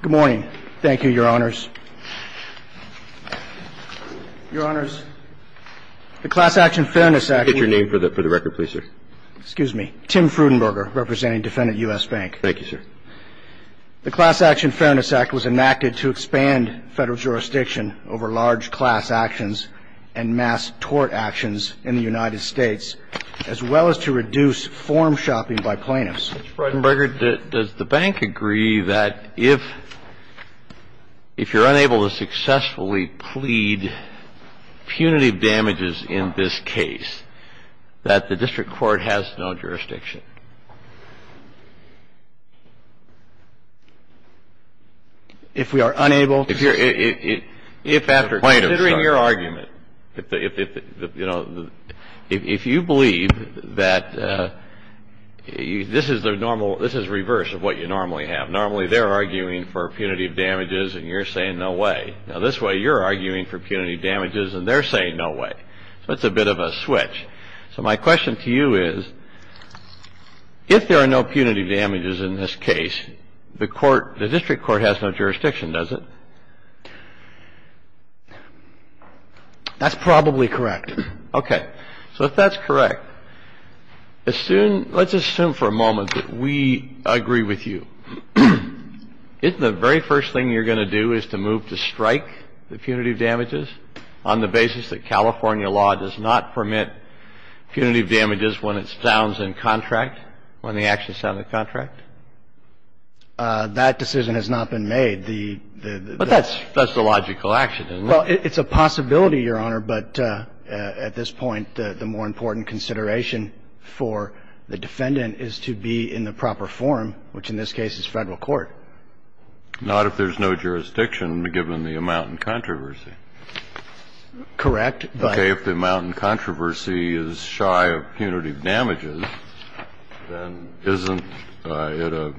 Good morning. Thank you, your honors. Your honors, the Class Action Fairness Act... Could you get your name for the record, please, sir? Excuse me. Tim Frudenberger, representing defendant U.S. Bank. Thank you, sir. The Class Action Fairness Act was enacted to expand federal jurisdiction over large class actions and mass tort actions in the United States, as well as to reduce form shopping by plaintiffs. Mr. Frudenberger, does the bank agree that if you're unable to successfully plead punitive damages in this case, that the district court has no jurisdiction? If we are unable to... Considering your argument, if you believe that this is the normal, this is reverse of what you normally have. Normally, they're arguing for punitive damages and you're saying no way. Now, this way, you're arguing for punitive damages and they're saying no way. So it's a bit of a switch. So my question to you is, if there are no punitive damages in this case, the court, the district court has no jurisdiction, does it? That's probably correct. Okay. So if that's correct, assume, let's assume for a moment that we agree with you. Isn't the very first thing you're going to do is to move to strike the punitive damages on the basis that California law does not permit punitive damages when it sounds in contract, when the actions sound in contract? That decision has not been made. But that's the logical action, isn't it? Well, it's a possibility, Your Honor. But at this point, the more important consideration for the defendant is to be in the proper form, which in this case is Federal court. Not if there's no jurisdiction, given the amount in controversy. Correct. Okay. If the amount in controversy is shy of punitive damages, then isn't it a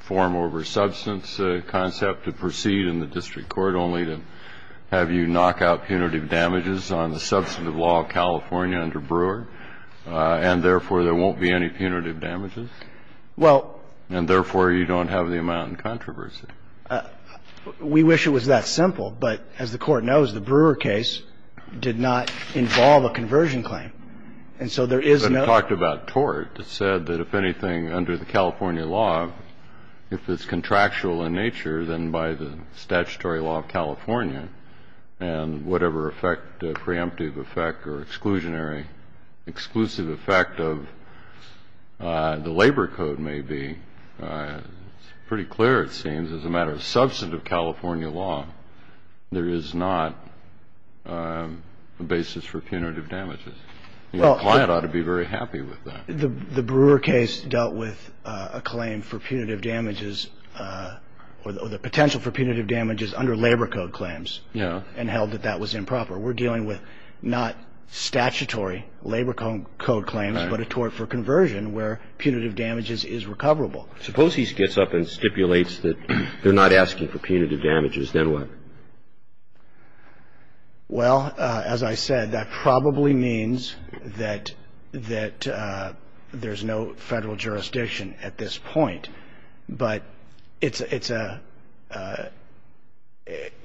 form over substance concept to proceed in the district court only to have you knock out punitive damages on the substantive law of California under Brewer, and therefore, there won't be any punitive damages? And therefore, you don't have the amount in controversy. We wish it was that simple, but as the Court knows, the Brewer case did not involve a conversion claim. And so there is no ---- But it talked about tort. It said that if anything, under the California law, if it's contractual in nature, then by the statutory law of California, and whatever effect, preemptive effect or exclusionary, exclusive effect of the Labor Code may be, it's pretty clear, it seems, as a matter of substantive California law, there is not a basis for punitive damages. The client ought to be very happy with that. The Brewer case dealt with a claim for punitive damages or the potential for punitive damages under Labor Code claims. Yeah. And held that that was improper. We're dealing with not statutory Labor Code claims, but a tort for conversion where punitive damages is recoverable. Suppose he gets up and stipulates that they're not asking for punitive damages. Then what? Well, as I said, that probably means that there's no Federal jurisdiction at this point. But it's a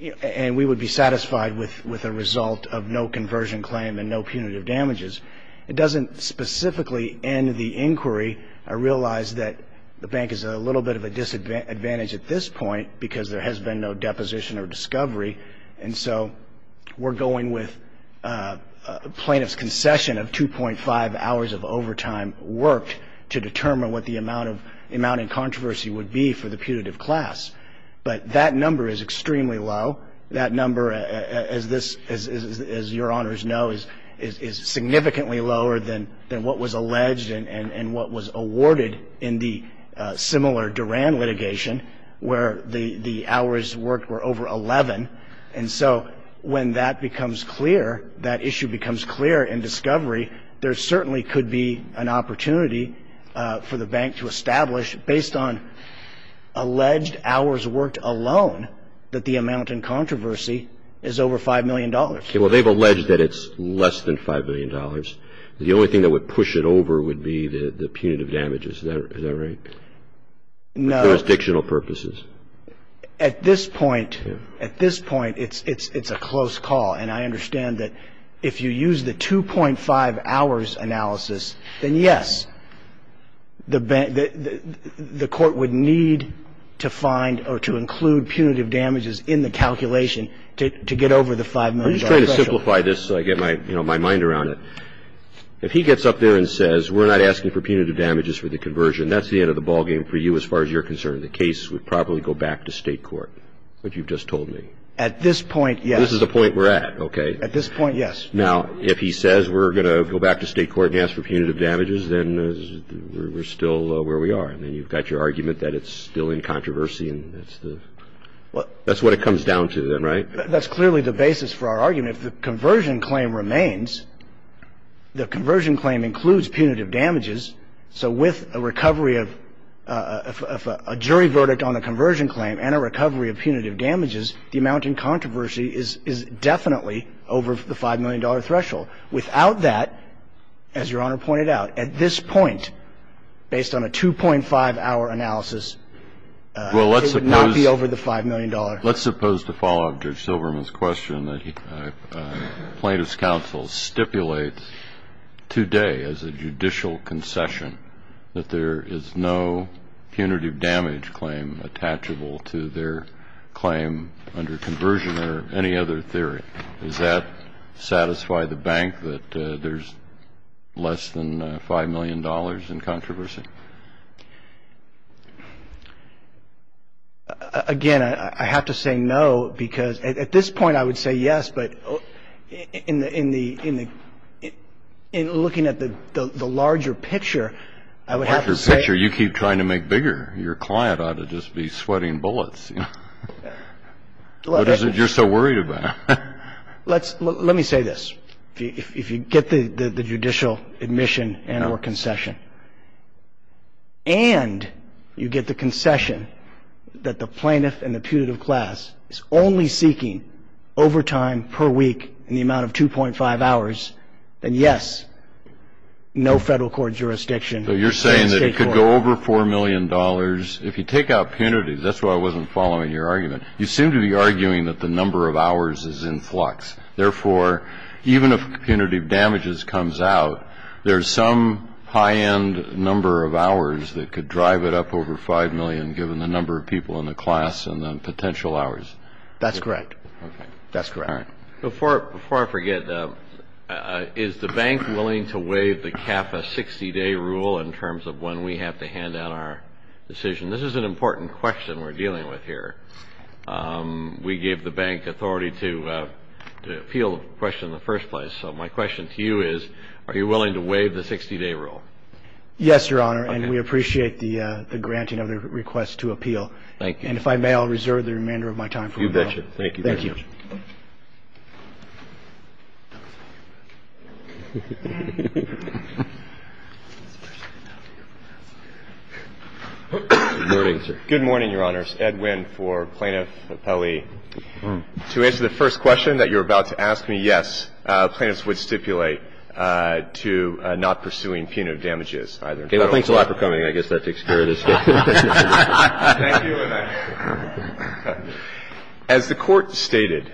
---- and we would be satisfied with a result of no conversion claim and no punitive It doesn't specifically end the inquiry. I realize that the bank is at a little bit of a disadvantage at this point because there has been no deposition or discovery. And so we're going with plaintiff's concession of 2.5 hours of overtime worked to determine what the amount of controversy would be for the punitive class. But that number is extremely low. That number, as this, as Your Honors know, is significantly lower than what was alleged and what was awarded in the similar Duran litigation where the hours worked were over 11. And so when that becomes clear, that issue becomes clear in discovery, there certainly could be an opportunity for the bank to establish, based on alleged hours worked alone, that the amount in controversy is over $5 million. Okay. Well, they've alleged that it's less than $5 million. The only thing that would push it over would be the punitive damages. Is that right? No. For jurisdictional purposes. At this point, at this point, it's a close call. And I understand that if you use the 2.5 hours analysis, then yes, the court would need to find or to include punitive damages in the calculation to get over the $5 million threshold. I'm just trying to simplify this so I get my, you know, my mind around it. If he gets up there and says we're not asking for punitive damages for the conversion, that's the end of the ballgame for you as far as you're concerned. The case would probably go back to State court, what you've just told me. At this point, yes. This is the point we're at. Okay. At this point, yes. Now, if he says we're going to go back to State court and ask for punitive damages, then we're still where we are. And then you've got your argument that it's still in controversy and that's the – that's what it comes down to then, right? That's clearly the basis for our argument. If the conversion claim remains, the conversion claim includes punitive damages. So with a recovery of a jury verdict on a conversion claim and a recovery of punitive damages, the amount in controversy is definitely over the $5 million threshold. Without that, as Your Honor pointed out, at this point, based on a 2.5-hour analysis, it would not be over the $5 million threshold. Let's suppose to follow up Judge Silverman's question that plaintiff's counsel stipulates today as a judicial concession that there is no punitive damage claim attachable to their claim under conversion or any other theory. Does that satisfy the bank that there's less than $5 million in controversy? Again, I have to say no because at this point I would say yes, but in the – in looking at the larger picture, I would have to say – Larger picture? You keep trying to make bigger. Your client ought to just be sweating bullets. What is it you're so worried about? Let me say this. If you get the judicial admission and or concession and you get the concession that the plaintiff and the punitive class is only seeking overtime per week in the amount of 2.5 hours, then yes, no federal court jurisdiction. So you're saying that it could go over $4 million. If you take out punities – that's why I wasn't following your argument. You seem to be arguing that the number of hours is in flux. Therefore, even if punitive damages comes out, there's some high-end number of hours that could drive it up over $5 million given the number of people in the class and the potential hours. That's correct. That's correct. All right. Before I forget, is the bank willing to waive the CAFA 60-day rule in terms of when we have to hand out our decision? This is an important question we're dealing with here. We gave the bank authority to appeal the question in the first place. So my question to you is, are you willing to waive the 60-day rule? Yes, Your Honor, and we appreciate the granting of the request to appeal. Thank you. And if I may, I'll reserve the remainder of my time. You betcha. Thank you very much. Thank you. Good morning, sir. My name is Ed Wynn for Plaintiff Appellee. To answer the first question that you're about to ask me, yes, plaintiffs would stipulate to not pursuing punitive damages either. Okay. Well, thanks a lot for coming. I guess that takes care of this. Thank you. As the Court stated,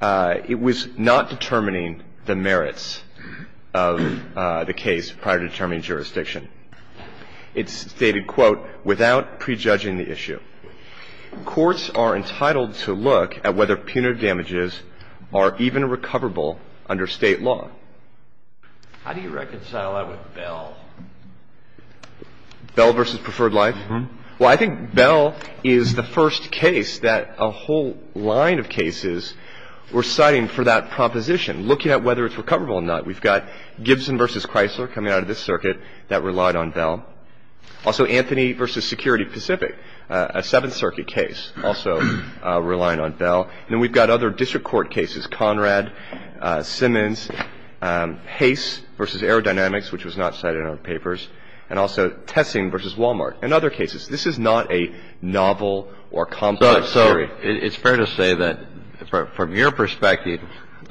it was not determining the merits of the case prior to determining jurisdiction. It stated, quote, without prejudging the issue. Courts are entitled to look at whether punitive damages are even recoverable under State law. How do you reconcile that with Bell? Bell v. Preferred Life? Mm-hmm. Well, I think Bell is the first case that a whole line of cases were citing for that proposition, looking at whether it's recoverable or not. We've got Gibson v. Chrysler coming out of this circuit that relied on Bell. Also, Anthony v. Security Pacific, a Seventh Circuit case, also relying on Bell. And then we've got other district court cases, Conrad, Simmons, Hays v. Aerodynamics, which was not cited in our papers, and also Tessing v. Wal-Mart and other cases. This is not a novel or complex theory. Well, it's fair to say that from your perspective,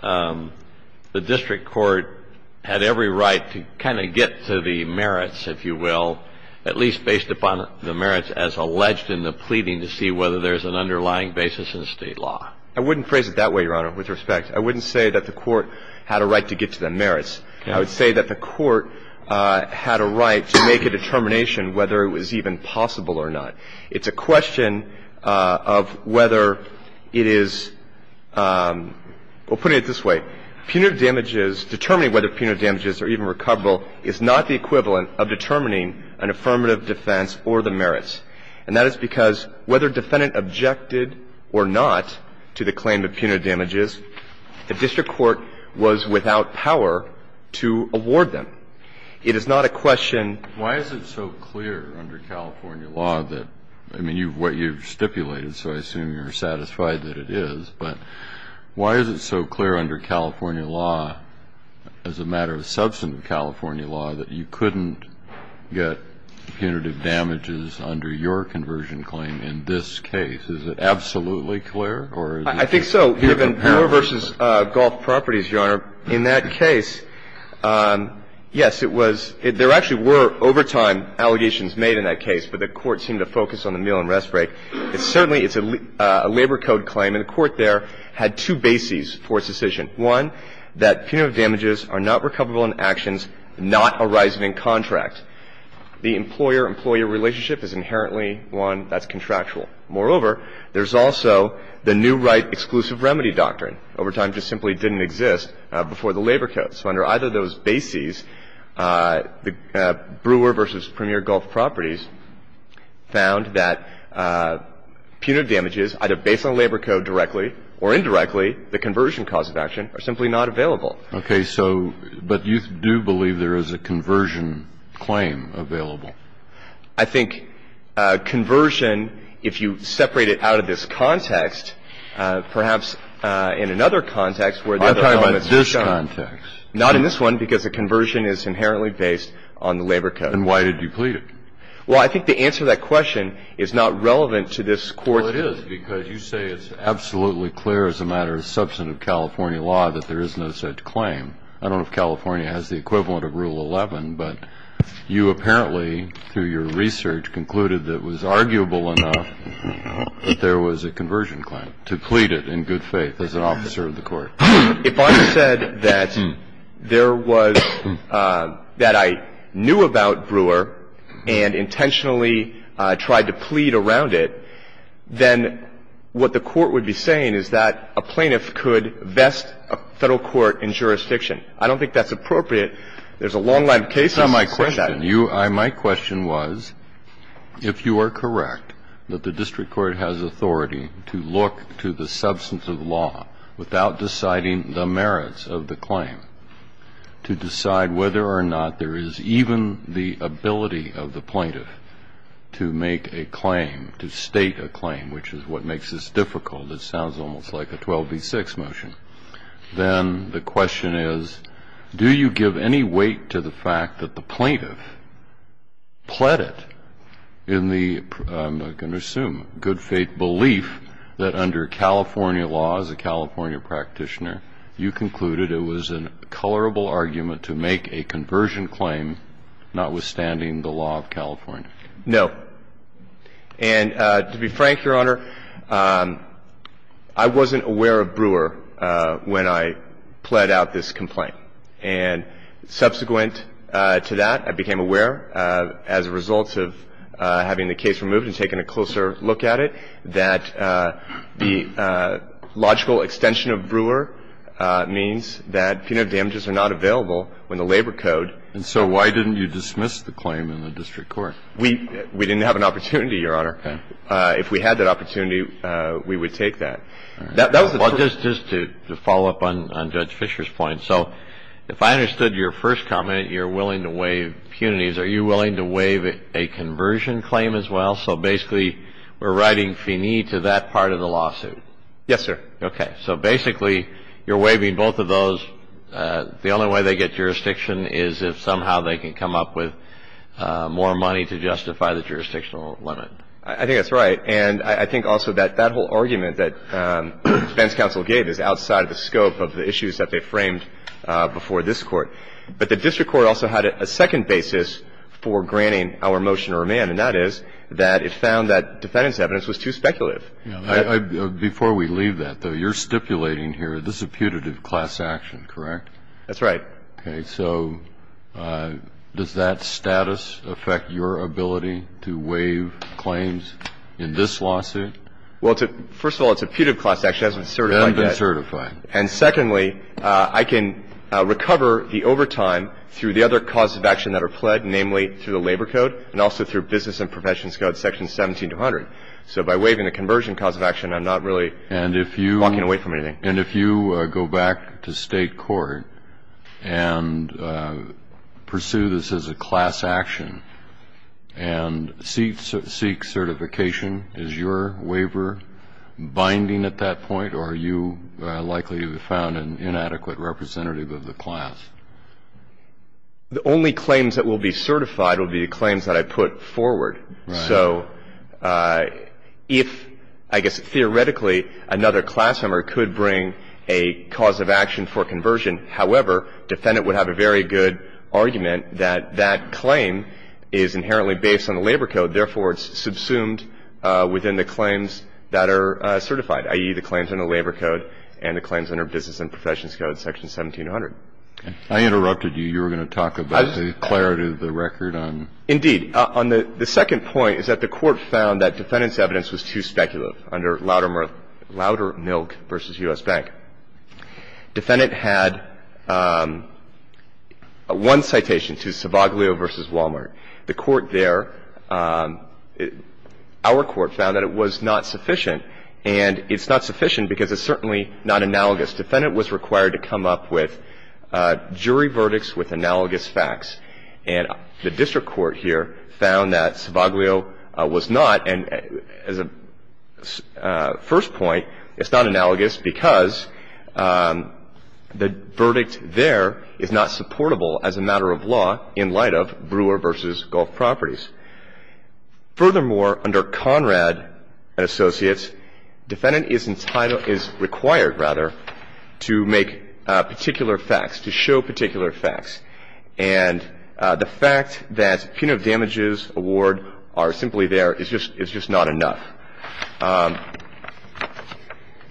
the district court had every right to kind of get to the merits, if you will, at least based upon the merits as alleged in the pleading to see whether there's an underlying basis in State law. I wouldn't phrase it that way, Your Honor, with respect. I wouldn't say that the Court had a right to get to the merits. I would say that the Court had a right to make a determination whether it was even possible or not. It's a question of whether it is — well, putting it this way, punitive damages, determining whether punitive damages are even recoverable is not the equivalent of determining an affirmative defense or the merits. And that is because whether defendant objected or not to the claim of punitive damages, the district court was without power to award them. It is not a question — Why is it so clear under California law that — I mean, what you've stipulated, so I assume you're satisfied that it is, but why is it so clear under California law, as a matter of substantive California law, that you couldn't get punitive damages under your conversion claim in this case? Is it absolutely clear, or is it — I think so. Given Moore v. Golf Properties, Your Honor, in that case, yes, it was — there actually were overtime allegations made in that case, but the Court seemed to focus on the meal and rest break. It's certainly — it's a labor code claim, and the Court there had two bases for its decision. One, that punitive damages are not recoverable in actions not arising in contract. The employer-employee relationship is inherently one that's contractual. Moreover, there's also the new right exclusive remedy doctrine. Overtime just simply didn't exist before the labor code. So under either of those bases, the Brewer v. Premier Golf Properties found that punitive damages, either based on labor code directly or indirectly, the conversion cause of action, are simply not available. Okay. So — but you do believe there is a conversion claim available? I think conversion, if you separate it out of this context, perhaps in another context where the other elements are shown — Not in this one, because the conversion is inherently based on the labor code. And why did you plead it? Well, I think the answer to that question is not relevant to this Court — Well, it is, because you say it's absolutely clear as a matter of substantive California law that there is no such claim. I don't know if California has the equivalent of Rule 11, but you apparently, through your research, concluded that it was arguable enough that there was a conversion claim, to plead it in good faith as an officer of the Court. If I said that there was — that I knew about Brewer and intentionally tried to plead around it, then what the Court would be saying is that a plaintiff could vest a Federal court in jurisdiction. I don't think that's appropriate. There's a long line of cases that say that. It's not my question. My question was, if you are correct that the district court has authority to look to the substantive law without deciding the merits of the claim, to decide whether or not there is even the ability of the plaintiff to make a claim, to state a claim, which is what makes this difficult. It sounds almost like a 12b-6 motion. Then the question is, do you give any weight to the fact that the plaintiff pled it in I'm going to assume good faith belief that under California laws, a California practitioner, you concluded it was a colorable argument to make a conversion claim notwithstanding the law of California. No. And to be frank, Your Honor, I wasn't aware of Brewer when I pled out this complaint. And subsequent to that, I became aware, as a result of having the case removed and taking a closer look at it, that the logical extension of Brewer means that punitive damages are not available when the labor code. And so why didn't you dismiss the claim in the district court? We didn't have an opportunity, Your Honor. If we had that opportunity, we would take that. Well, just to follow up on Judge Fischer's point. So if I understood your first comment, you're willing to waive punities. Are you willing to waive a conversion claim as well? So basically we're writing finis to that part of the lawsuit. Yes, sir. Okay. So basically you're waiving both of those. The only way they get jurisdiction is if somehow they can come up with more money to justify the jurisdictional limit. I think that's right. And I think also that that whole argument that defense counsel gave is outside of the scope of the issues that they framed before this Court. But the district court also had a second basis for granting our motion to remand, and that is that it found that defendant's evidence was too speculative. Before we leave that, though, you're stipulating here this is a punitive class action, correct? That's right. Okay. So does that status affect your ability to waive claims in this lawsuit? Well, first of all, it's a punitive class action. It hasn't been certified yet. It hasn't been certified. And secondly, I can recover the overtime through the other causes of action that are pled, namely through the Labor Code and also through Business and Professions Code, sections 17 to 100. So by waiving the conversion cause of action, I'm not really walking away from anything. And if you go back to state court and pursue this as a class action and seek certification, is your waiver binding at that point, or are you likely to have found an inadequate representative of the class? The only claims that will be certified will be the claims that I put forward. So if, I guess, theoretically, another class member could bring a cause of action for conversion, however, defendant would have a very good argument that that claim is inherently based on the Labor Code. Therefore, it's subsumed within the claims that are certified, i.e., the claims under Labor Code and the claims under Business and Professions Code, section 17 to 100. I interrupted you. You were going to talk about the clarity of the record on the claims. The second point is that the Court found that defendant's evidence was too speculative under Loudermilk v. U.S. Bank. Defendant had one citation to Sabaglio v. Wal-Mart. The Court there, our Court, found that it was not sufficient, and it's not sufficient because it's certainly not analogous. Defendant was required to come up with jury verdicts with analogous facts. And the district court here found that Sabaglio was not. And as a first point, it's not analogous because the verdict there is not supportable as a matter of law in light of Brewer v. Gulf Properties. Furthermore, under Conrad and Associates, defendant is entitled, is required, rather, to make particular facts, to show particular facts. And the fact that punitive damages award are simply there is just not enough.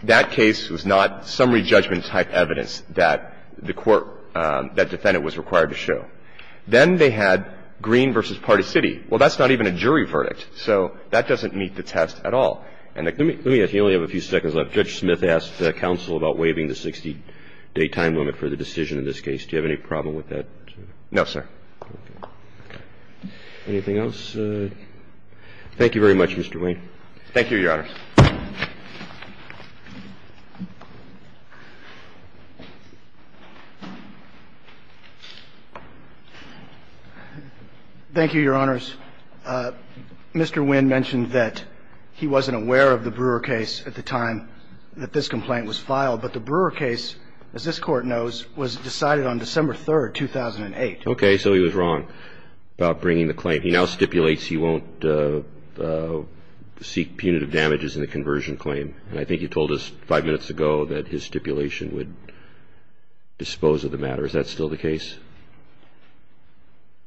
That case was not summary judgment-type evidence that the Court, that defendant was required to show. Then they had Green v. Party City. Well, that's not even a jury verdict. So that doesn't meet the test at all. And let me ask you, you only have a few seconds left. Judge Smith asked counsel about waiving the 60-day time limit for the decision in this case. Do you have any problem with that? No, sir. Okay. Anything else? Thank you very much, Mr. Wayne. Thank you, Your Honors. Thank you, Your Honors. Mr. Wayne mentioned that he wasn't aware of the Brewer case at the time that this complaint was filed. But the Brewer case, as this Court knows, was decided on December 3, 2008. Okay. So he was wrong about bringing the claim. He now stipulates he won't seek punitive damages in the conversion claim. And I think you told us five minutes ago that his stipulation would dispose of the matter. Is that still the case?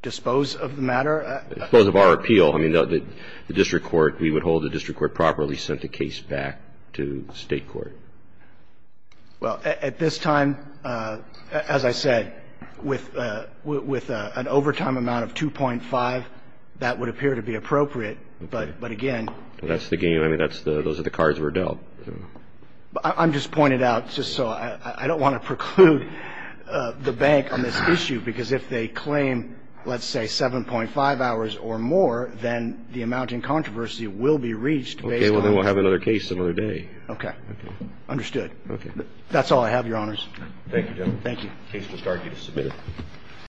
Dispose of the matter? Dispose of our appeal. I mean, the district court, we would hold the district court properly sent the case back to State court. Well, at this time, as I said, with an overtime amount of 2.5, that would appear to be appropriate. But, again. That's the game. I mean, those are the cards we're dealt. I'm just pointing out just so I don't want to preclude the bank on this issue because if they claim, let's say, 7.5 hours or more, then the amount in controversy will be reached based on. Okay. Well, then we'll have another case another day. Okay. Understood. Okay. That's all I have, Your Honors. Thank you, gentlemen. Thank you. Case to start.